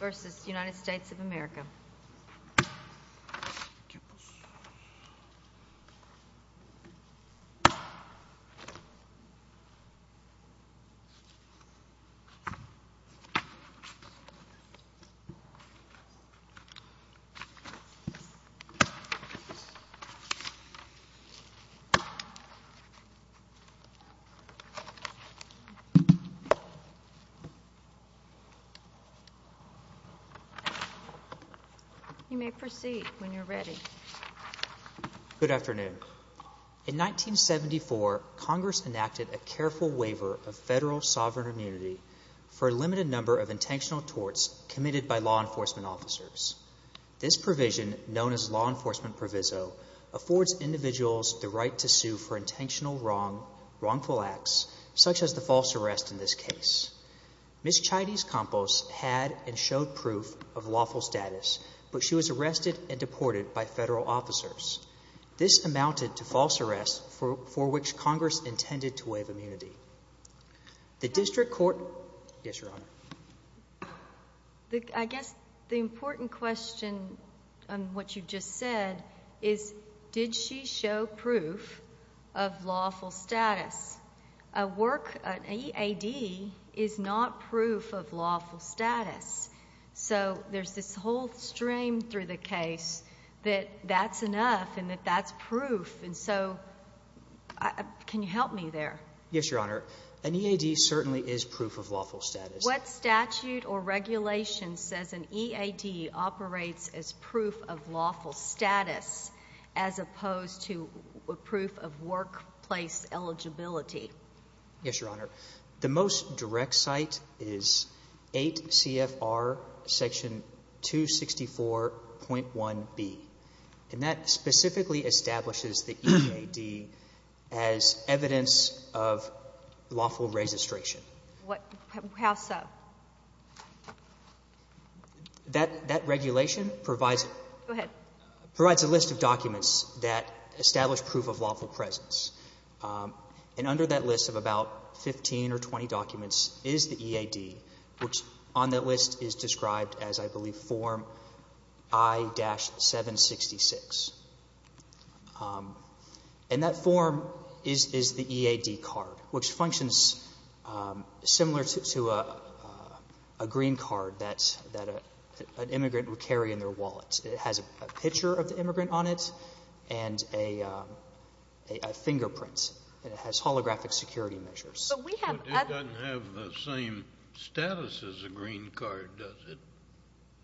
Campos v. United States of America In 1974, Congress enacted a careful waiver of federal sovereign immunity for a limited number of intentional torts committed by law enforcement officers. This provision, known as law enforcement proviso, affords individuals the right to sue for intentional wrongful acts, such as the false arrest in this case. Ms. Chides Campos had and showed proof of lawful status, but she was arrested and deported by federal officers. This amounted to false arrests for which Congress intended to waive immunity. The District Court, yes, Your Honor. I guess the important question on what you just said is, did she show proof of lawful status? A work — an EAD is not proof of lawful status. So there's this whole stream through the case that that's enough and that that's proof. And so can you help me there? Yes, Your Honor. An EAD certainly is proof of lawful status. What statute or regulation says an EAD operates as proof of lawful status as opposed to proof of workplace eligibility? Yes, Your Honor. The most direct site is 8 CFR section 264.1b, and that specifically establishes the EAD as evidence of lawful registration. What — how so? That regulation provides — Go ahead. — provides a list of documents that establish proof of lawful presence. And under that list of about 15 or 20 documents is the EAD, which on that list is described as, I believe, Form I-766. And that form is the EAD card, which functions similar to a green card that an immigrant would carry in their wallet. It has a picture of the immigrant on it and a fingerprint, and it has holographic security measures. But we have other — But it doesn't have the same status as a green card, does it?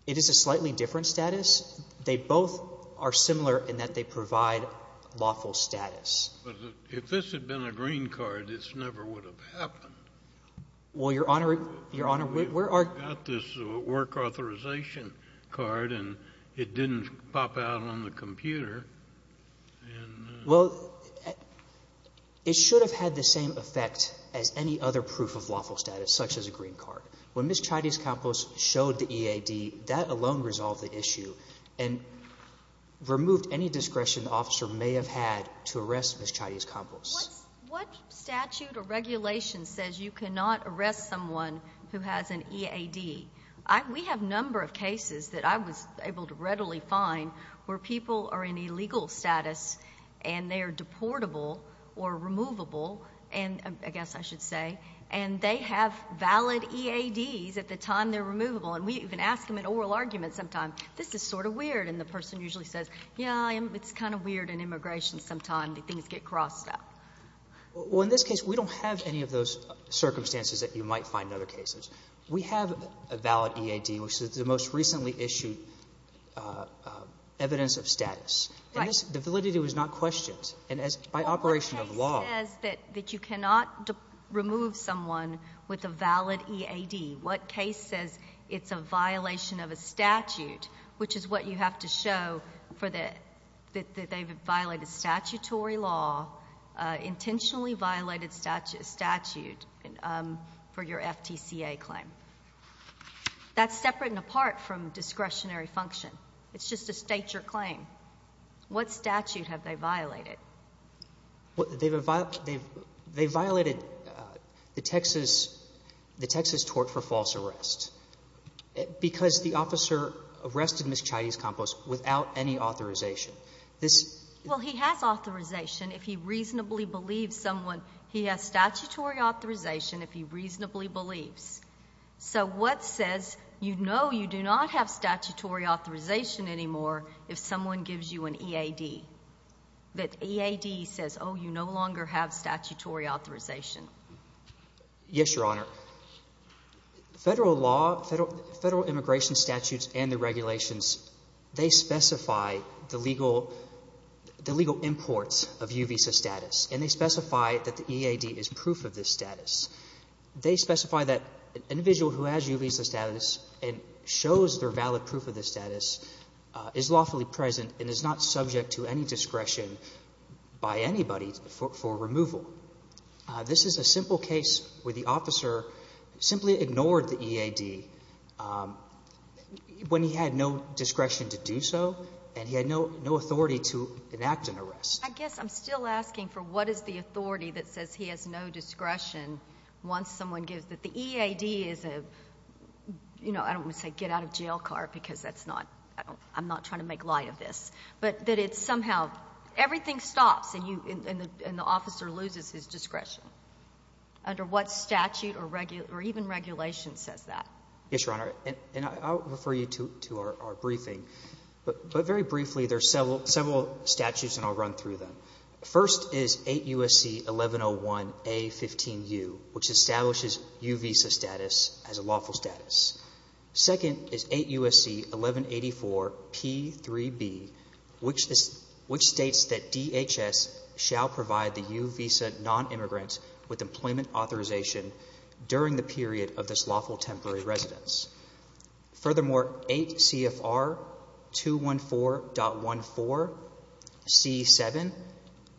It is a slightly different status. They both are similar in that they provide lawful status. But if this had been a green card, this never would have happened. Well, Your Honor — Your Honor, we're — I got this work authorization card, and it didn't pop out on the computer. And — Well, it should have had the same effect as any other proof of lawful status, such as a green card. When Ms. Chaitis-Campos showed the EAD, that alone resolved the issue and removed any discretion the officer may have had to arrest Ms. Chaitis-Campos. What statute or regulation says you cannot arrest someone who has an EAD? We have a number of cases that I was able to readily find where people are in illegal status and they are deportable or removable, I guess I should say, and they have valid EADs at the time they're removable. And we even ask them in oral arguments sometimes, this is sort of weird. And the person usually says, yeah, it's kind of weird in immigration sometimes, things get crossed out. Well, in this case, we don't have any of those circumstances that you might find in other cases. We have a valid EAD, which is the most recently issued evidence of status. Right. And this — the validity was not questioned. And as — by operation of law — Well, what case says that you cannot remove someone with a valid EAD? What case says it's a violation of a statute, which is what you have to show for the — that they've violated statutory law, intentionally violated statute for your FTCA claim? That's separate and apart from discretionary function. It's just a state your claim. What statute have they violated? Well, they've — they've violated the Texas — the Texas tort for false arrest. Because the officer arrested Ms. Chayes-Campos without any authorization. This — Well, he has authorization if he reasonably believes someone — he has statutory authorization if he reasonably believes. So what says you know you do not have statutory authorization anymore if someone gives you an EAD? That EAD says, oh, you no longer have statutory authorization. Yes, Your Honor. Your Honor, federal law — federal immigration statutes and the regulations, they specify the legal — the legal imports of U visa status. And they specify that the EAD is proof of this status. They specify that an individual who has U visa status and shows their valid proof of this status is lawfully present and is not subject to any discretion by anybody for removal. This is a simple case where the officer simply ignored the EAD when he had no discretion to do so, and he had no authority to enact an arrest. I guess I'm still asking for what is the authority that says he has no discretion once someone gives — that the EAD is a — you know, I don't want to say get out of jail car because that's not — I'm not trying to make light of this. But that it's somehow — everything stops and you — and the officer loses his discretion under what statute or even regulation says that. Yes, Your Honor. And I'll refer you to our briefing. But very briefly, there are several statutes, and I'll run through them. First is 8 U.S.C. 1101A15U, which establishes U visa status as a lawful status. Second is 8 U.S.C. 1184P3B, which states that DHS shall provide the U visa nonimmigrant with employment authorization during the period of this lawful temporary residence. Furthermore, 8 CFR 214.14C7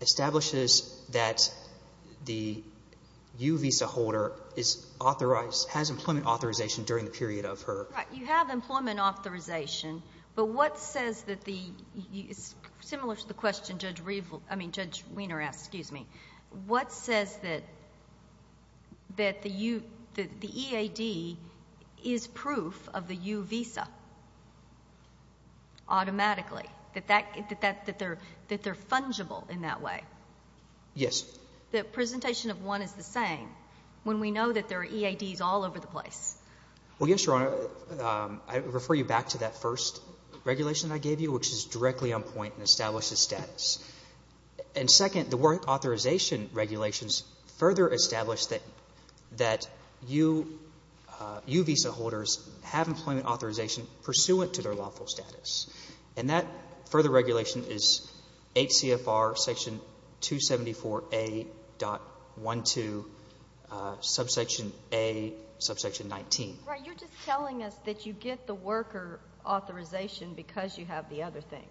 establishes that the U visa holder is authorized — has employment authorization during the period of her — Right. You have employment authorization, but what says that the — it's similar to the question Judge — I mean, Judge Weiner asked, excuse me. What says that the U — that the EAD is proof of the U visa automatically, that that — that they're — that they're fungible in that way? Yes. The presentation of one is the same when we know that there are EADs all over the place. Well, yes, Your Honor. I refer you back to that first regulation that I gave you, which is directly on point and establishes status. And second, the work authorization regulations further establish that — that U visa holders have employment authorization pursuant to their lawful status. And that further regulation is 8 CFR section 274A.12, subsection A, subsection 19. Right. You're just telling us that you get the worker authorization because you have the other thing.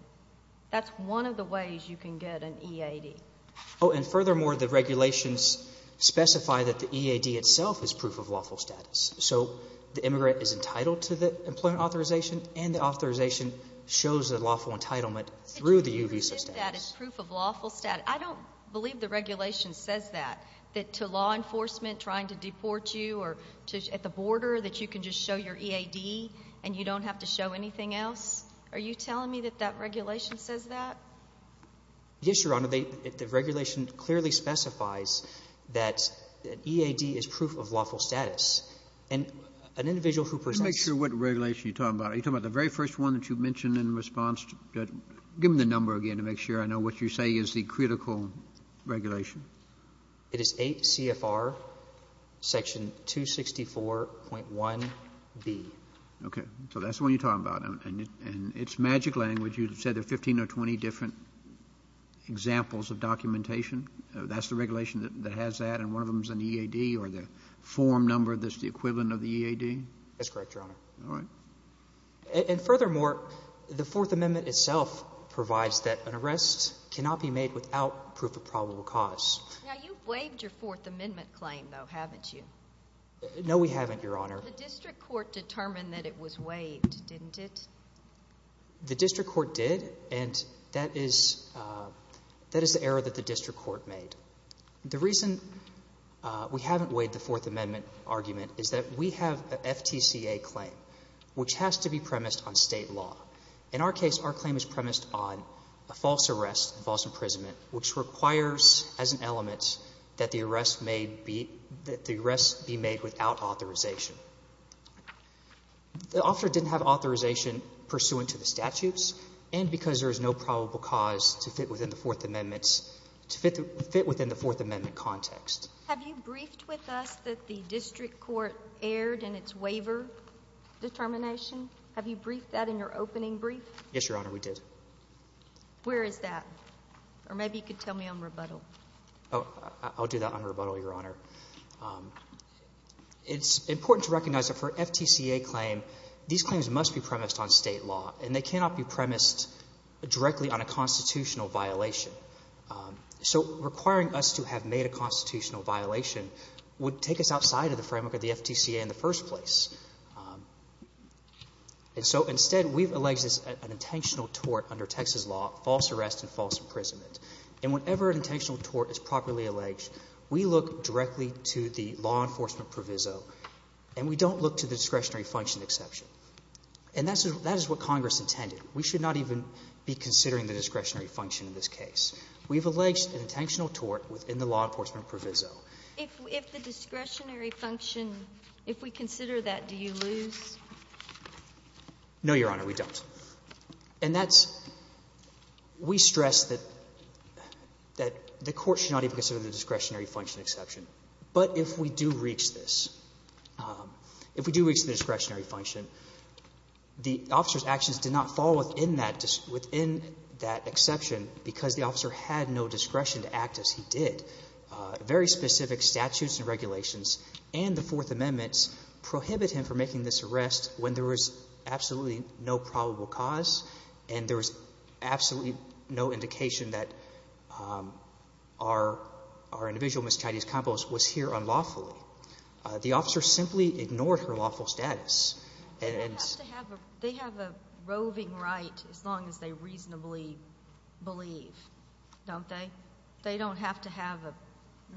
That's one of the ways you can get an EAD. Oh, and furthermore, the regulations specify that the EAD itself is proof of lawful status. So the immigrant is entitled to the employment authorization, and the authorization shows the lawful entitlement through the U visa status. So you can prove that it's proof of lawful status. I don't believe the regulation says that, that to law enforcement trying to deport you or to — at the border, that you can just show your EAD and you don't have to show anything else. Are you telling me that that regulation says that? Yes, Your Honor. The regulation clearly specifies that EAD is proof of lawful status. And an individual who presents to you — Let me make sure what regulation you're talking about. Are you talking about the very first one that you mentioned in response to — give me the number again to make sure I know what you say is the critical regulation. It is 8 CFR section 264.1b. Okay. So that's the one you're talking about. And it's magic language. You said there are 15 or 20 different examples of documentation. That's the regulation that has that, and one of them is an EAD or the form number that's the equivalent of the EAD? That's correct, Your Honor. All right. And furthermore, the Fourth Amendment itself provides that an arrest cannot be made without proof of probable cause. Now, you've waived your Fourth Amendment claim, though, haven't you? No, we haven't, Your Honor. The district court determined that it was waived, didn't it? The district court did, and that is the error that the district court made. The reason we haven't waived the Fourth Amendment argument is that we have an FTCA claim, which has to be premised on state law. In our case, our claim is premised on a false arrest, a false imprisonment, which requires as an element that the arrest be made without authorization. The officer didn't have authorization pursuant to the statutes, and because there is no probable cause to fit within the Fourth Amendment context. Have you briefed with us that the district court erred in its waiver determination? Have you briefed that in your opening brief? Yes, Your Honor, we did. Where is that? Or maybe you could tell me on rebuttal. Oh, I'll do that on rebuttal, Your Honor. It's important to recognize that for an FTCA claim, these claims must be premised on state law, and they cannot be premised directly on a constitutional violation. So requiring us to have made a constitutional violation would take us outside of the framework of the FTCA in the first place. And so instead, we've alleged this as an intentional tort under Texas law, false arrest, and false imprisonment. We don't look directly to the law enforcement proviso, and we don't look to the discretionary function exception. And that is what Congress intended. We should not even be considering the discretionary function in this case. We've alleged an intentional tort within the law enforcement proviso. If the discretionary function, if we consider that, do you lose? No, Your Honor, we don't. And that's we stress that the court should not even consider the discretionary function exception. But if we do reach this, if we do reach the discretionary function, the officer's actions did not fall within that exception because the officer had no discretion to act as he did. Very specific statutes and regulations and the Fourth Amendment prohibit him from making this arrest when there was absolutely no probable cause and there was absolutely no indication that our individual, Ms. Chattis-Campos, was here unlawfully. The officer simply ignored her lawful status. And it's to have a they have a roving right as long as they reasonably believe, don't they? They don't have to have a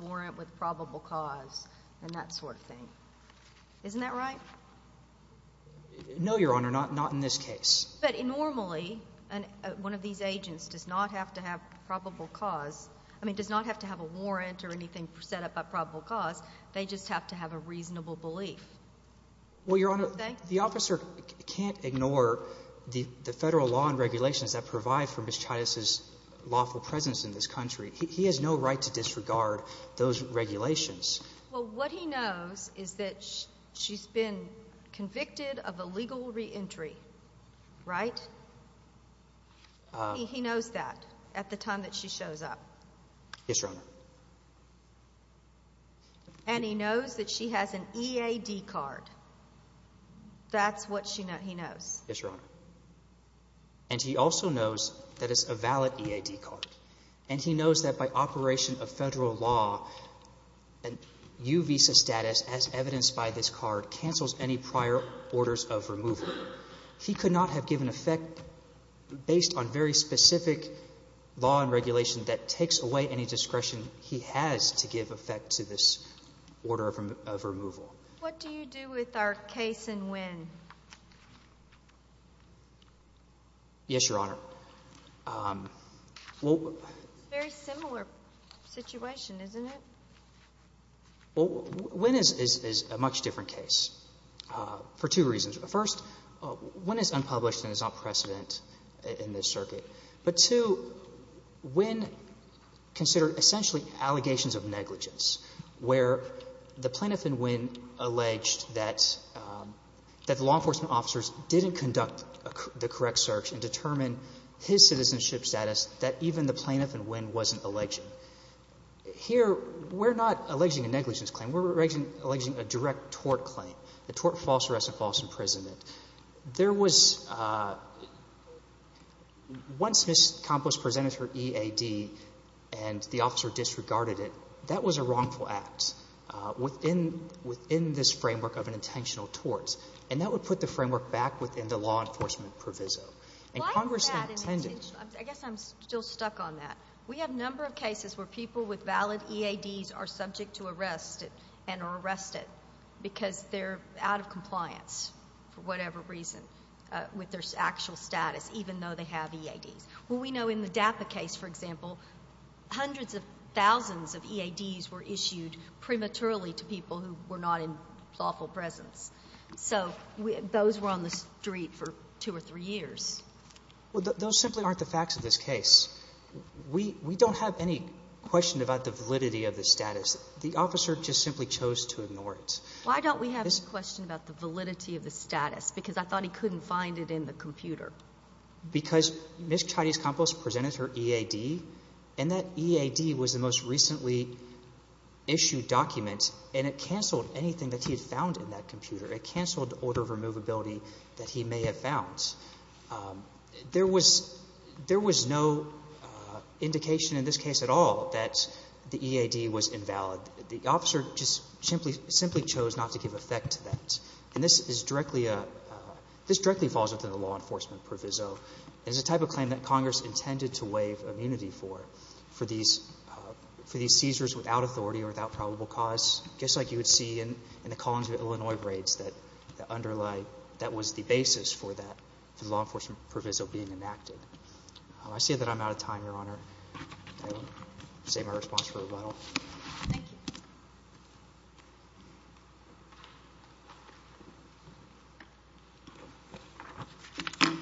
warrant with probable cause and that sort of thing. Isn't that right? No, Your Honor, not in this case. But normally one of these agents does not have to have probable cause. I mean, does not have to have a warrant or anything set up by probable cause. They just have to have a reasonable belief. Well, Your Honor, the officer can't ignore the Federal law and regulations that provide for Ms. Chattis' lawful presence in this country. He has no right to disregard those regulations. Well, what he knows is that she's been convicted of illegal reentry, right? He knows that at the time that she shows up. Yes, Your Honor. And he knows that she has an EAD card. That's what he knows. Yes, Your Honor. And he also knows that it's a valid EAD card. And he knows that by operation of Federal law, U visa status, as evidenced by this card, cancels any prior orders of removal. He could not have given effect based on very specific law and regulation that takes away any discretion he has to give effect to this order of removal. What do you do with our case and when? Yes, Your Honor. It's a very similar situation, isn't it? Well, Wynne is a much different case for two reasons. First, Wynne is unpublished and is not precedent in this circuit. But, two, Wynne considered essentially allegations of negligence, where the plaintiff in Wynne alleged that the law enforcement officers didn't conduct the correct search and determine his citizenship status that even the plaintiff in Wynne wasn't alleging. Here, we're not alleging a negligence claim. We're alleging a direct tort claim, a tort, false arrest, and false imprisonment. There was once Ms. Campos presented her EAD and the officer disregarded it, that was a wrongful act within this framework of an intentional tort. And that would put the framework back within the law enforcement proviso. Why is that? I guess I'm still stuck on that. We have a number of cases where people with valid EADs are subject to arrest and are arrested because they're out of compliance for whatever reason with their actual status, even though they have EADs. Well, we know in the DAPA case, for example, hundreds of thousands of EADs were issued prematurely to people who were not in lawful presence. So those were on the street for two or three years. Well, those simply aren't the facts of this case. We don't have any question about the validity of the status. The officer just simply chose to ignore it. Why don't we have a question about the validity of the status? Because I thought he couldn't find it in the computer. Because Ms. Chayde's compost presented her EAD, and that EAD was the most recently issued document, and it canceled anything that he had found in that computer. It canceled the order of removability that he may have found. There was no indication in this case at all that the EAD was invalid. The officer just simply chose not to give effect to that. And this is directly a – this directly falls under the law enforcement proviso. It is a type of claim that Congress intended to waive immunity for, for these seizures without authority or without probable cause, just like you would see in the Collins v. Illinois raids that underlie – that was the basis for that law enforcement proviso being enacted. I see that I'm out of time, Your Honor. I will say my response for rebuttal. Thank you.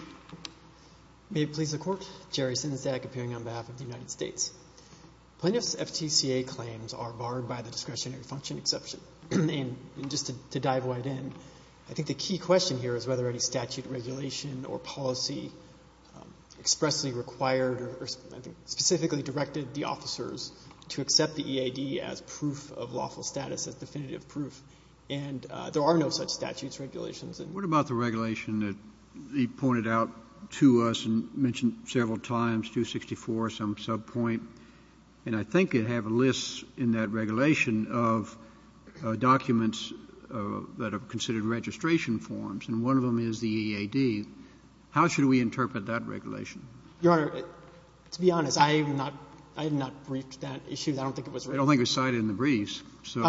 May it please the Court. Jerry Sinsdag, appearing on behalf of the United States. Plaintiffs' FTCA claims are barred by the discretionary function exception. And just to dive right in, I think the key question here is whether any statute, regulation, or policy expressly required or specifically directed the officers to accept the EAD as proof of lawful status, as definitive proof. And there are no such statutes, regulations. What about the regulation that he pointed out to us and mentioned several times, 264, some subpoint? And I think it had a list in that regulation of documents that are considered registration forms. How should we interpret that regulation? Your Honor, to be honest, I have not briefed that issue. I don't think it was written. I don't think it was cited in the briefs. So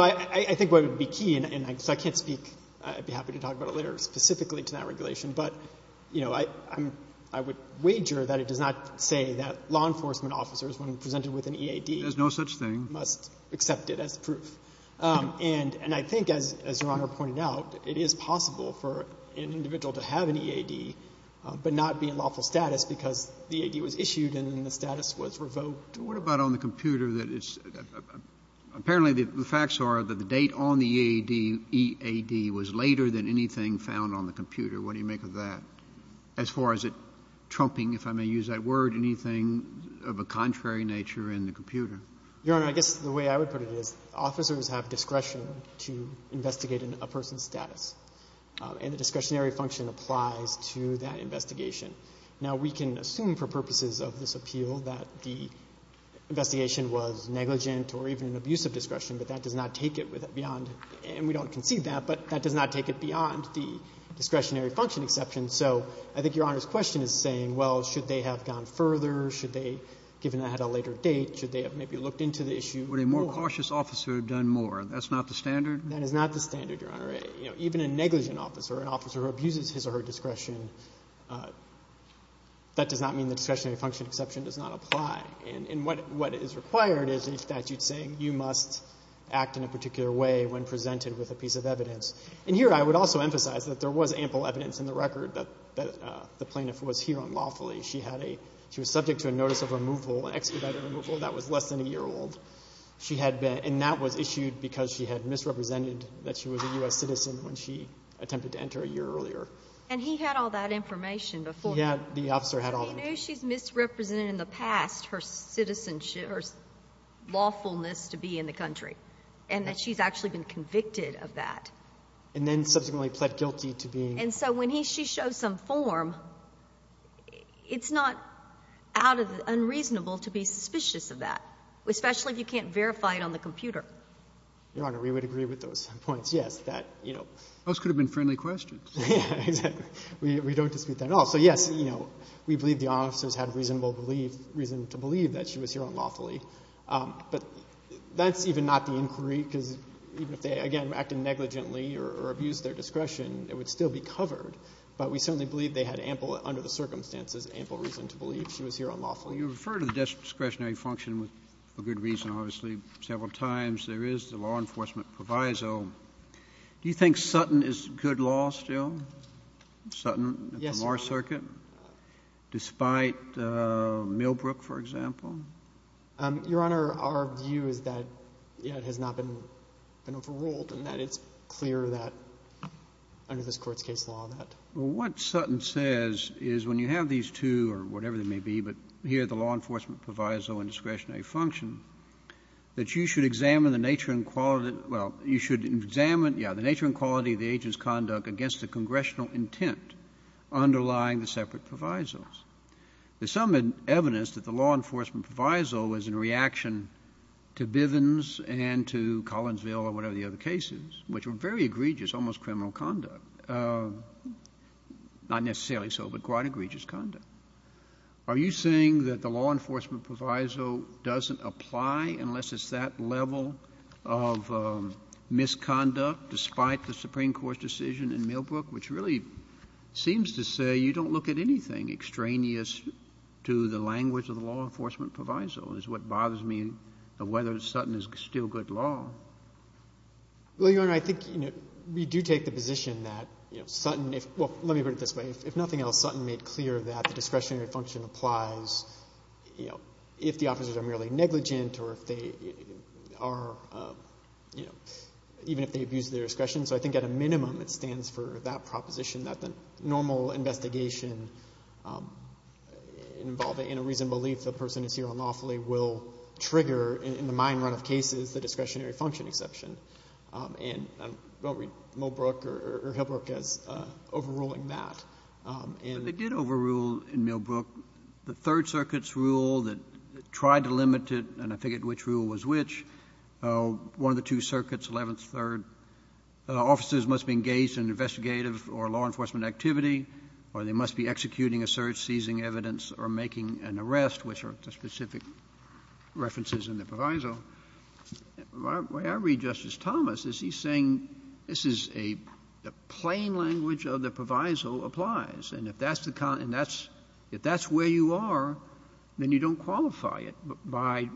I think what would be key, and so I can't speak. I'd be happy to talk about it later specifically to that regulation. But, you know, I would wager that it does not say that law enforcement officers, when presented with an EAD, There's no such thing. must accept it as proof. And I think, as Your Honor pointed out, it is possible for an individual to have an EAD but not be in lawful status because the EAD was issued and the status was revoked. What about on the computer that it's – apparently, the facts are that the date on the EAD was later than anything found on the computer. What do you make of that? As far as it trumping, if I may use that word, anything of a contrary nature in the computer? Your Honor, I guess the way I would put it is officers have discretion to investigate a person's status. And the discretionary function applies to that investigation. Now, we can assume for purposes of this appeal that the investigation was negligent or even an abuse of discretion, but that does not take it beyond – and we don't concede that – but that does not take it beyond the discretionary function exception. So I think Your Honor's question is saying, well, should they have gone further? Should they, given that it had a later date, should they have maybe looked into the issue more? Would a more cautious officer have done more? That's not the standard? That is not the standard, Your Honor. Even a negligent officer, an officer who abuses his or her discretion, that does not mean the discretionary function exception does not apply. And what is required is a statute saying you must act in a particular way when presented with a piece of evidence. And here I would also emphasize that there was ample evidence in the record that the plaintiff was here unlawfully. She had a – she was subject to a notice of removal, an expedited removal that was less than a year old. She had been – and that was issued because she had misrepresented that she was a U.S. citizen when she attempted to enter a year earlier. And he had all that information before? He had. The officer had all of it. So he knew she's misrepresented in the past her citizenship or lawfulness to be in the country and that she's actually been convicted of that. And then subsequently pled guilty to being – And so when he – she shows some form, it's not unreasonable to be suspicious of that, especially if you can't verify it on the computer. Your Honor, we would agree with those points, yes, that, you know. Those could have been friendly questions. Yeah, exactly. We don't dispute that at all. So yes, you know, we believe the officers had reasonable belief – reason to believe that she was here unlawfully. But that's even not the inquiry because even if they, again, acted negligently or abused their discretion, it would still be covered. But we certainly believe they had ample, under the circumstances, ample reason to believe she was here unlawfully. Well, you refer to the discretionary function for good reason, obviously, several times. There is the law enforcement proviso. Do you think Sutton is good law still? Sutton? Yes, Your Honor. At the Moore Circuit? Despite Millbrook, for example? Your Honor, our view is that, yeah, it has not been overruled and that it's clear that under this Court's case law that – Well, what Sutton says is when you have these two or whatever they may be, but here the law enforcement proviso and discretionary function, that you should examine the nature and quality – well, you should examine, yeah, the nature and quality of the agent's conduct against the congressional intent underlying the separate provisos. There's some evidence that the law enforcement proviso was in reaction to Bivens and to Collinsville or whatever the other case is, which were very egregious, almost criminal conduct. Not necessarily so, but quite egregious conduct. Are you saying that the law enforcement proviso doesn't apply unless it's that level of misconduct despite the Supreme Court's decision in Millbrook, which really seems to say you don't look at anything extraneous to the language of the law enforcement proviso is what bothers me of whether Sutton is still good law. Well, Your Honor, I think, you know, we do take the position that, you know, Sutton – well, let me put it this way. If nothing else, Sutton made clear that the discretionary function applies, you know, if the officers are merely negligent or if they are, you know, even if they abuse their discretion. So I think at a minimum it stands for that proposition that the normal investigation involving in a reasoned belief the person is here unlawfully will trigger in the mine run of cases the discretionary function exception. And I don't read Millbrook or Hillbrook as overruling that. They did overrule in Millbrook the Third Circuit's rule that tried to limit it and I forget which rule was which. One of the two circuits, 11th, 3rd, officers must be engaged in investigative or law enforcement activity or they must be executing a search, seizing evidence, or making an arrest, which are the specific references in the proviso. So the way I read Justice Thomas is he's saying this is a plain language of the proviso applies. And if that's where you are, then you don't qualify it by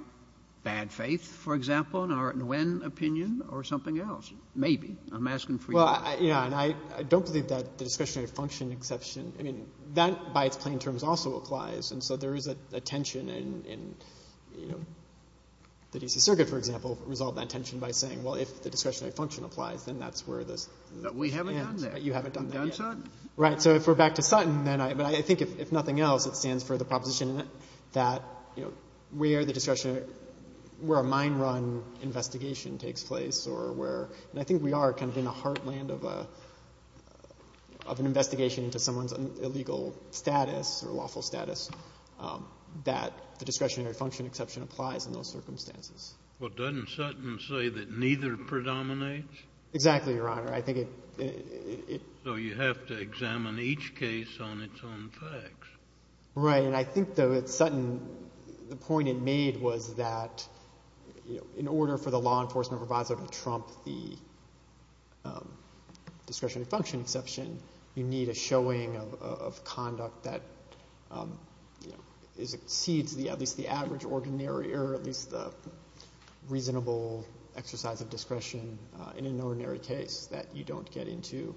bad faith, for example, in our Nguyen opinion, or something else. Maybe. I'm asking for your opinion. Well, yeah. And I don't believe that the discretionary function exception, I mean, that by its plain terms also applies. And so there is a tension in, you know, the D.C. Circuit, for example, resolved that tension by saying, well, if the discretionary function applies, then that's where this... But we haven't done that. You haven't done that. We've done Sutton. Right. So if we're back to Sutton, then I think if nothing else, it stands for the proposition that, you know, where the discretionary, where a mine run investigation takes place or where, and I think we are kind of in the heartland of an investigation into someone's illegal status or lawful status, that the discretionary function exception applies in those circumstances. Well, doesn't Sutton say that neither predominates? Exactly, Your Honor. I think it... So you have to examine each case on its own facts. Right. And I think, though, that Sutton, the point it made was that, you know, in order for the law enforcement provisor to trump the discretionary function exception, you need a showing of conduct that, you know, exceeds at least the average ordinary or at least the reasonable exercise of discretion in an ordinary case that you don't get into.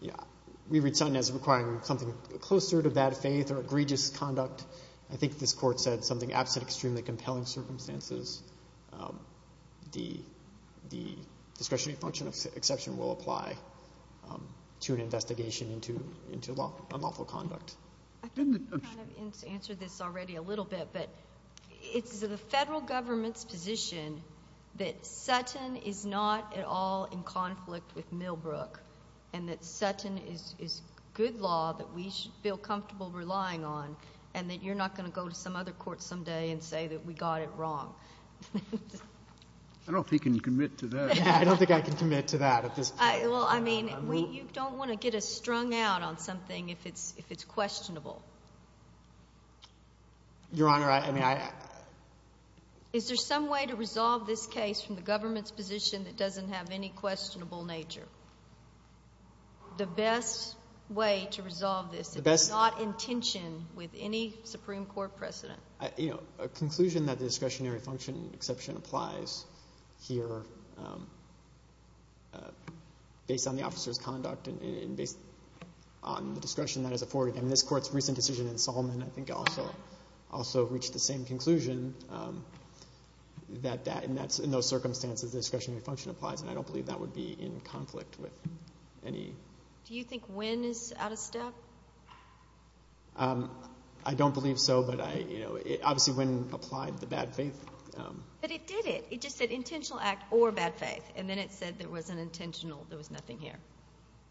Yeah. We read Sutton as requiring something closer to bad faith or egregious conduct. I think this court said something absent extremely compelling circumstances. The discretionary function exception will apply to an investigation into lawful conduct. I think you kind of answered this already a little bit, but it's the federal government's position that Sutton is not at all in conflict with Millbrook and that Sutton is good law that we should feel comfortable relying on and that you're not gonna go to some other court someday and say that we got it wrong. I don't think you can commit to that. I don't think I can commit to that at this point. Well, I mean, you don't want to get us strung out on something if it's questionable. Your Honor, I mean, I... Is there some way to resolve this case from the government's position that doesn't have any questionable nature? The best way to resolve this is not in tension with any Supreme Court precedent. You know, a conclusion that the discretionary function exception applies here based on the officer's conduct and based on the discretion that is afforded. And this Court's recent decision in Solomon I think also reached the same conclusion that in those circumstances the discretionary function applies, and I don't believe that would be in conflict with any... Do you think Wynne is out of step? I don't believe so, but I, you know, obviously Wynne applied the bad faith. But it did it. It just said intentional act or bad faith, and then it said there was an intentional there was nothing here.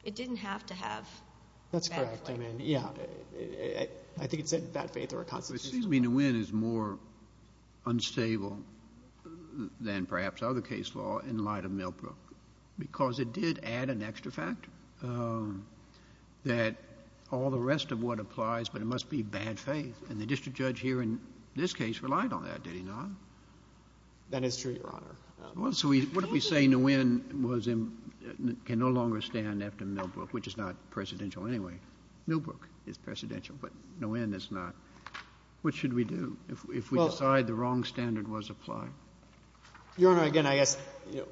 It didn't have to have bad faith. That's correct. I mean, yeah. I think it said bad faith or a constitutional... It seems to me that Wynne is more unstable than perhaps other case law in light of Millbrook because it did add an extra factor that all the rest of what applies, but it must be bad faith. And the district judge here in this case relied on that, did he not? That is true, Your Honor. Well, so what if we say Nguyen was in... can no longer stand after Millbrook, which is not presidential anyway. Millbrook is presidential, but Nguyen is not. What should we do if we decide the wrong standard was applied? Your Honor, again, I guess, you know,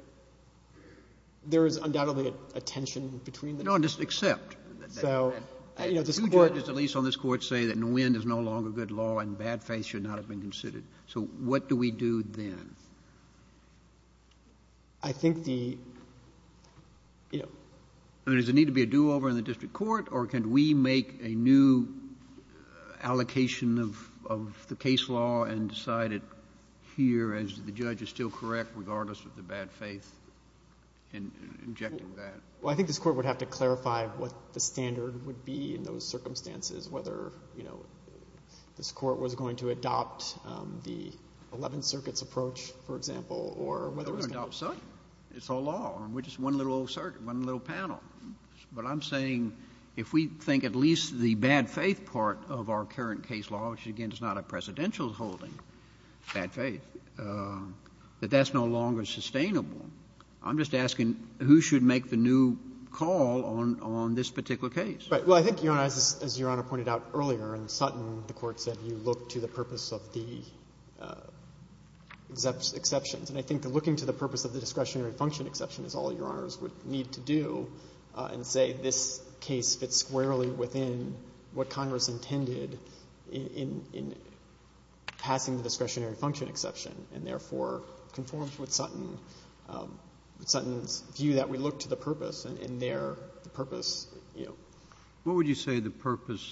there is undoubtedly a tension between the... No, just accept. So, you know, this Court... Two judges, at least on this Court, say that Nguyen is no longer good law and bad faith should not have been considered. So what do we do then? I think the... You know... I mean, does it need to be a do-over in the district court or can we make a new allocation of the case law and decide it here as the judge is still correct regardless of the bad faith in injecting that? Well, I think this Court would have to clarify what the standard would be in those circumstances, whether, you know, this Court was going to adopt the Eleventh Circuit's approach, for example, or whether... We're going to adopt Sutton. It's all law. We're just one little old circuit, one little panel. But I'm saying if we think at least the bad faith part of our current case law, which, again, is not a presidential holding, bad faith, that that's no longer sustainable, I'm just asking who should make the new call on this particular case? Right. Well, I think, Your Honor, as Your Honor pointed out earlier in Sutton, the Court said you look to the purpose of the exceptions. And I think looking to the purpose of the discretionary function exception is all Your Honors would need to do and say this case fits squarely within what Congress intended in passing the discretionary function exception and, therefore, conforms with Sutton's view that we look to the purpose and their purpose, you know. What would you say the purpose,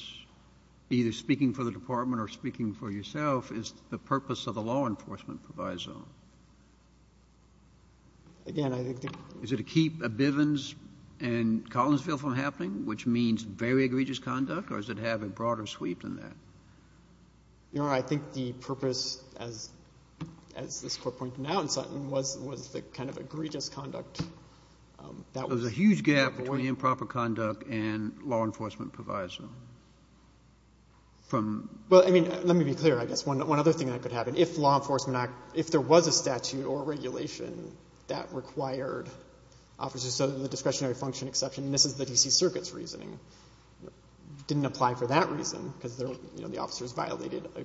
either speaking for the Department or speaking for yourself, is the purpose of the law enforcement proviso? Again, I think... Is it to keep Bivens and Collinsville from happening, which means very egregious conduct or does it have a broader sweep than that? Your Honor, I think the purpose, as this Court pointed out in Sutton, was the kind of egregious conduct that was... There's a huge gap between improper conduct and law enforcement proviso. From... Well, I mean, let me be clear, I guess. One other thing that could happen. If law enforcement... If there was a statute that required officers so that the discretionary function exception misses the D.C. Circuit's reasoning, it didn't apply for that reason because, you know, the officers violated a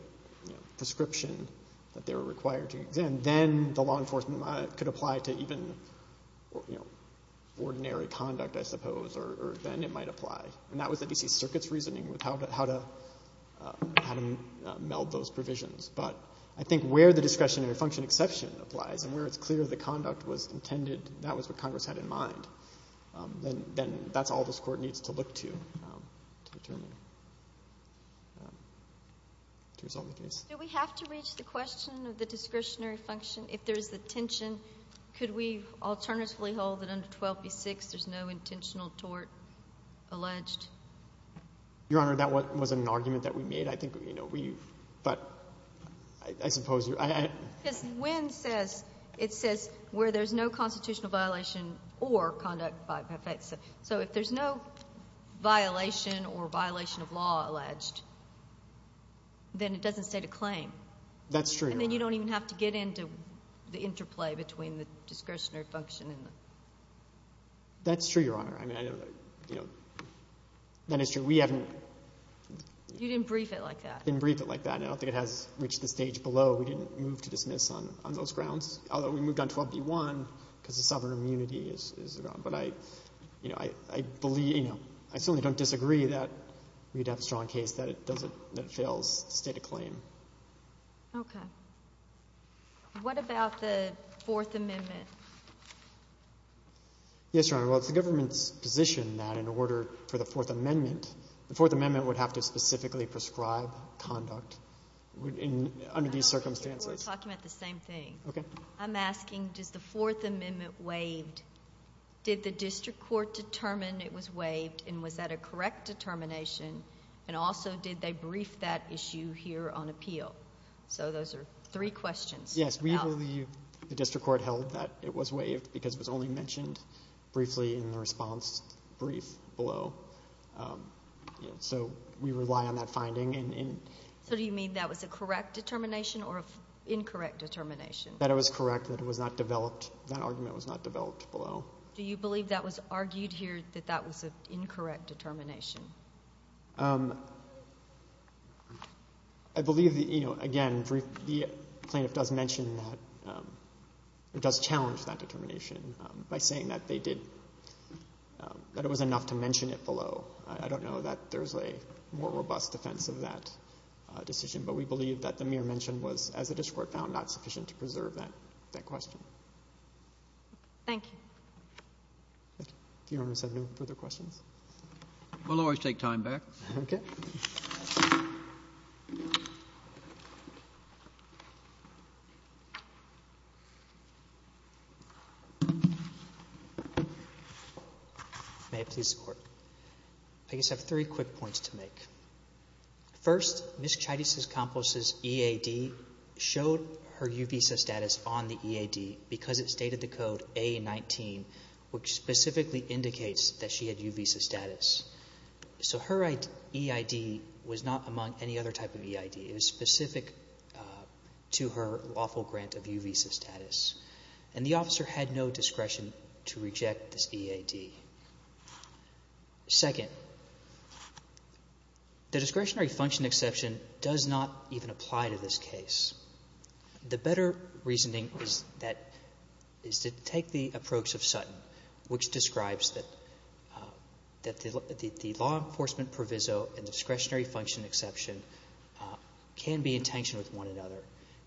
prescription that they were required to exend, then the law enforcement could apply to even, you know, ordinary conduct, I suppose, or then it might apply. And that was the D.C. Circuit's reasoning with how to... How to... How to meld those provisions. But I think where the discretionary function exception applies and where it's clear the conduct was intended, that was what Congress had in mind, then that's all this Court needs to look to to determine to resolve the case. Do we have to reach the question of the discretionary function if there's a tension? Could we alternatively hold that under 12b.6 there's no Your Honor, that wasn't an argument that we made. I think, you know, we... But, I suppose... Yes, Wynn says it says where there's no constitutional violation or conduct by effects. So, if there's no violation or violation of law alleged, then it doesn't state a claim. That's true, Your Honor. And then you don't even have to get into the interplay between the discretionary function and the... That's true, Your Honor. I mean, I know that, you know, that is true. We haven't... You didn't brief it like that. Didn't brief it like that. I don't think it has reached the stage below we didn't move to dismiss on those grounds. Although we moved on 12b.1 because of sovereign immunity is gone. But I, you know, I believe, you know, I certainly don't disagree that we'd have a strong case that it doesn't, that it fails to state a claim. Okay. What about the Fourth Amendment? Yes, Your Honor. Well, it's the government's position that in order for the Fourth Amendment, the Fourth Amendment would have to specifically prescribe conduct under these circumstances. We're talking about the same thing. Okay. I'm asking, does the Fourth Amendment waived? Did the district court determine it was waived and was that a correct determination? And also, did they brief that issue here on appeal? So, those are three questions. Yes, we believe the district court held that it was waived because it was only mentioned briefly in the response brief below. So, we rely on that finding. So, do you mean that was a correct determination or an incorrect determination? That it was correct, that it was not developed, that argument was not developed below. Do you believe that was argued here that that was an incorrect determination? Um, I believe that, you know, again, the plaintiff does mention that, it does challenge that determination by saying that they did, that it was enough to mention it below. I don't know that there's a more robust defense of that decision, but we believe that the mere determination was not enough to preserve that question. Thank you. Do you want to send further questions? We'll always take time back. Okay. May I please support? I just have three quick points to make. First, Ms. Chides' accomplice's EAD showed a UVISA status on the EAD because it stated the code A-19 which specifically indicates that she had UVISA status. So her EID was not among any other type of EID. It was specific to her lawful grant of UVISA status. And the officer had no discretion to reject this EAD. Second, the discretionary function exception does not even apply to this case. The better reasoning is that is to take the approach of Sutton, which describes that the law enforcement proviso and discretionary function exception can be in tension with one another.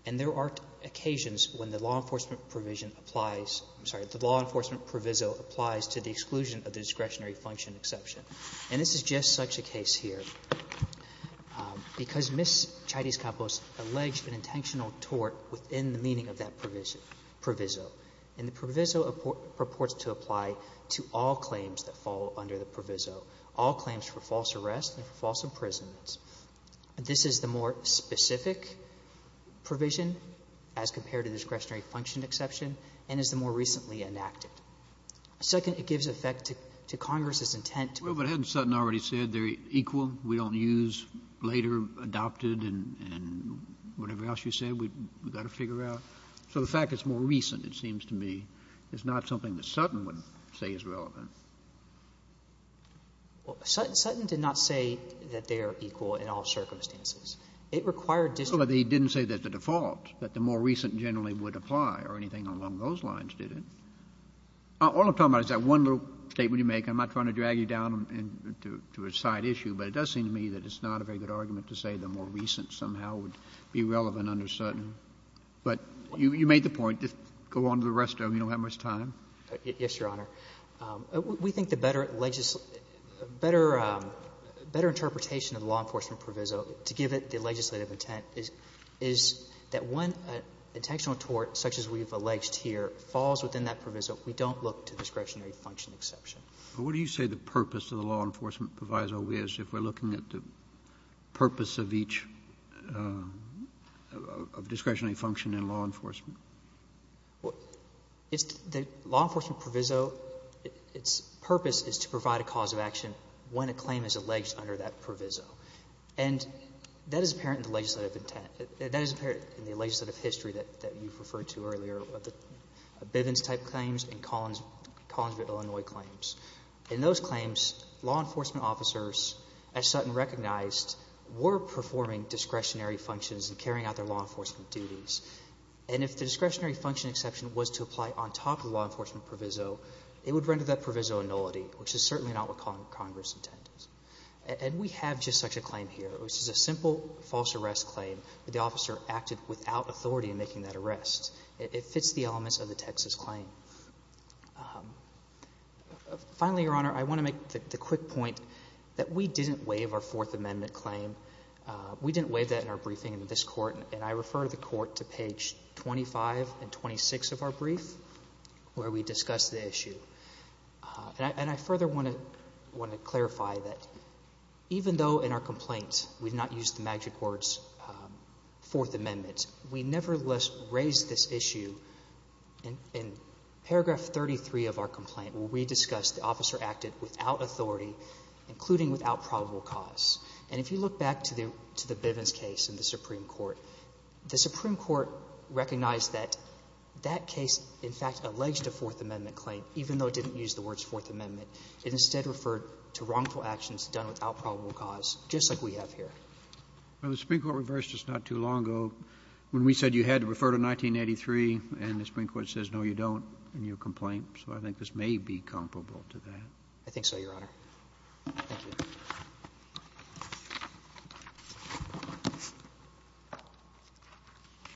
And there are occasions when the law enforcement proviso applies to the exclusion of the discretionary function exception. And this is just such a case here because Ms. Chaitis-Campos alleged an intentional tort within the meaning of that proviso. And the proviso purports to apply to all claims that fall under the proviso, all claims for false arrests and for false imprisonments. This is the more specific provision as compared to the discretionary function exception and is the more recently enacted. Second, it gives effect to Congress's intent. Kennedy. Well, but hadn't Sutton already said they're equal, we don't use later adopted and whatever else you want to later under Sutton? Yes, Your Honor. We think the better better better interpretation of the law enforcement proviso to give it the legislative intent is that once the legislative intent is established and when intentional tort such as we've alleged here falls within that proviso we don't look to discretionary function exception. What do you say the purpose of the law enforcement proviso is if we're looking at the purpose of each discretionary function in law enforcement? The law enforcement proviso its purpose is to provide a cause of action when a alleged under that proviso and that is apparent in the legislative intent that is apparent in the legislative history that you've referred to earlier the Bivens type claims and Collinsville Illinois claims. In those claims law enforcement officers as Sutton recognized were performing discretionary functions and carrying out their law enforcement duties and if the discretionary function exception was to apply on top of the law enforcement proviso it would render that provisionality which is certainly not what Congress intended. And we have just such a claim here which is a simple false arrest claim that the officer acted without authority in making that arrest. It fits the elements of the Texas claim. Finally Your Honor I want to make the quick point that we didn't waive our Fourth Amendment claim. We didn't waive that claim. In our briefing in this court I refer the court to page 25 and 26 of our brief where we discussed the issue. I further want to clarify that even though in our complaint we did not use the magic words Fourth Amendment we never raised this issue in paragraph 33 of our complaint where we discussed the officer acted without authority including without probable cause. And if you look back to the Bivens case in the Supreme Court the Supreme Court recognized that that case in fact alleged a Fourth Amendment claim even though it didn't use the words Fourth Amendment it instead referred to wrongful actions done without probable cause just like we have here. When we said you had to refer to 1983 and not 1983 a wrongful action sir. think your Honor I think this may be comparable I think so your Honor. Thank you. END END END END END END END END END A 0 0 0 0 1 0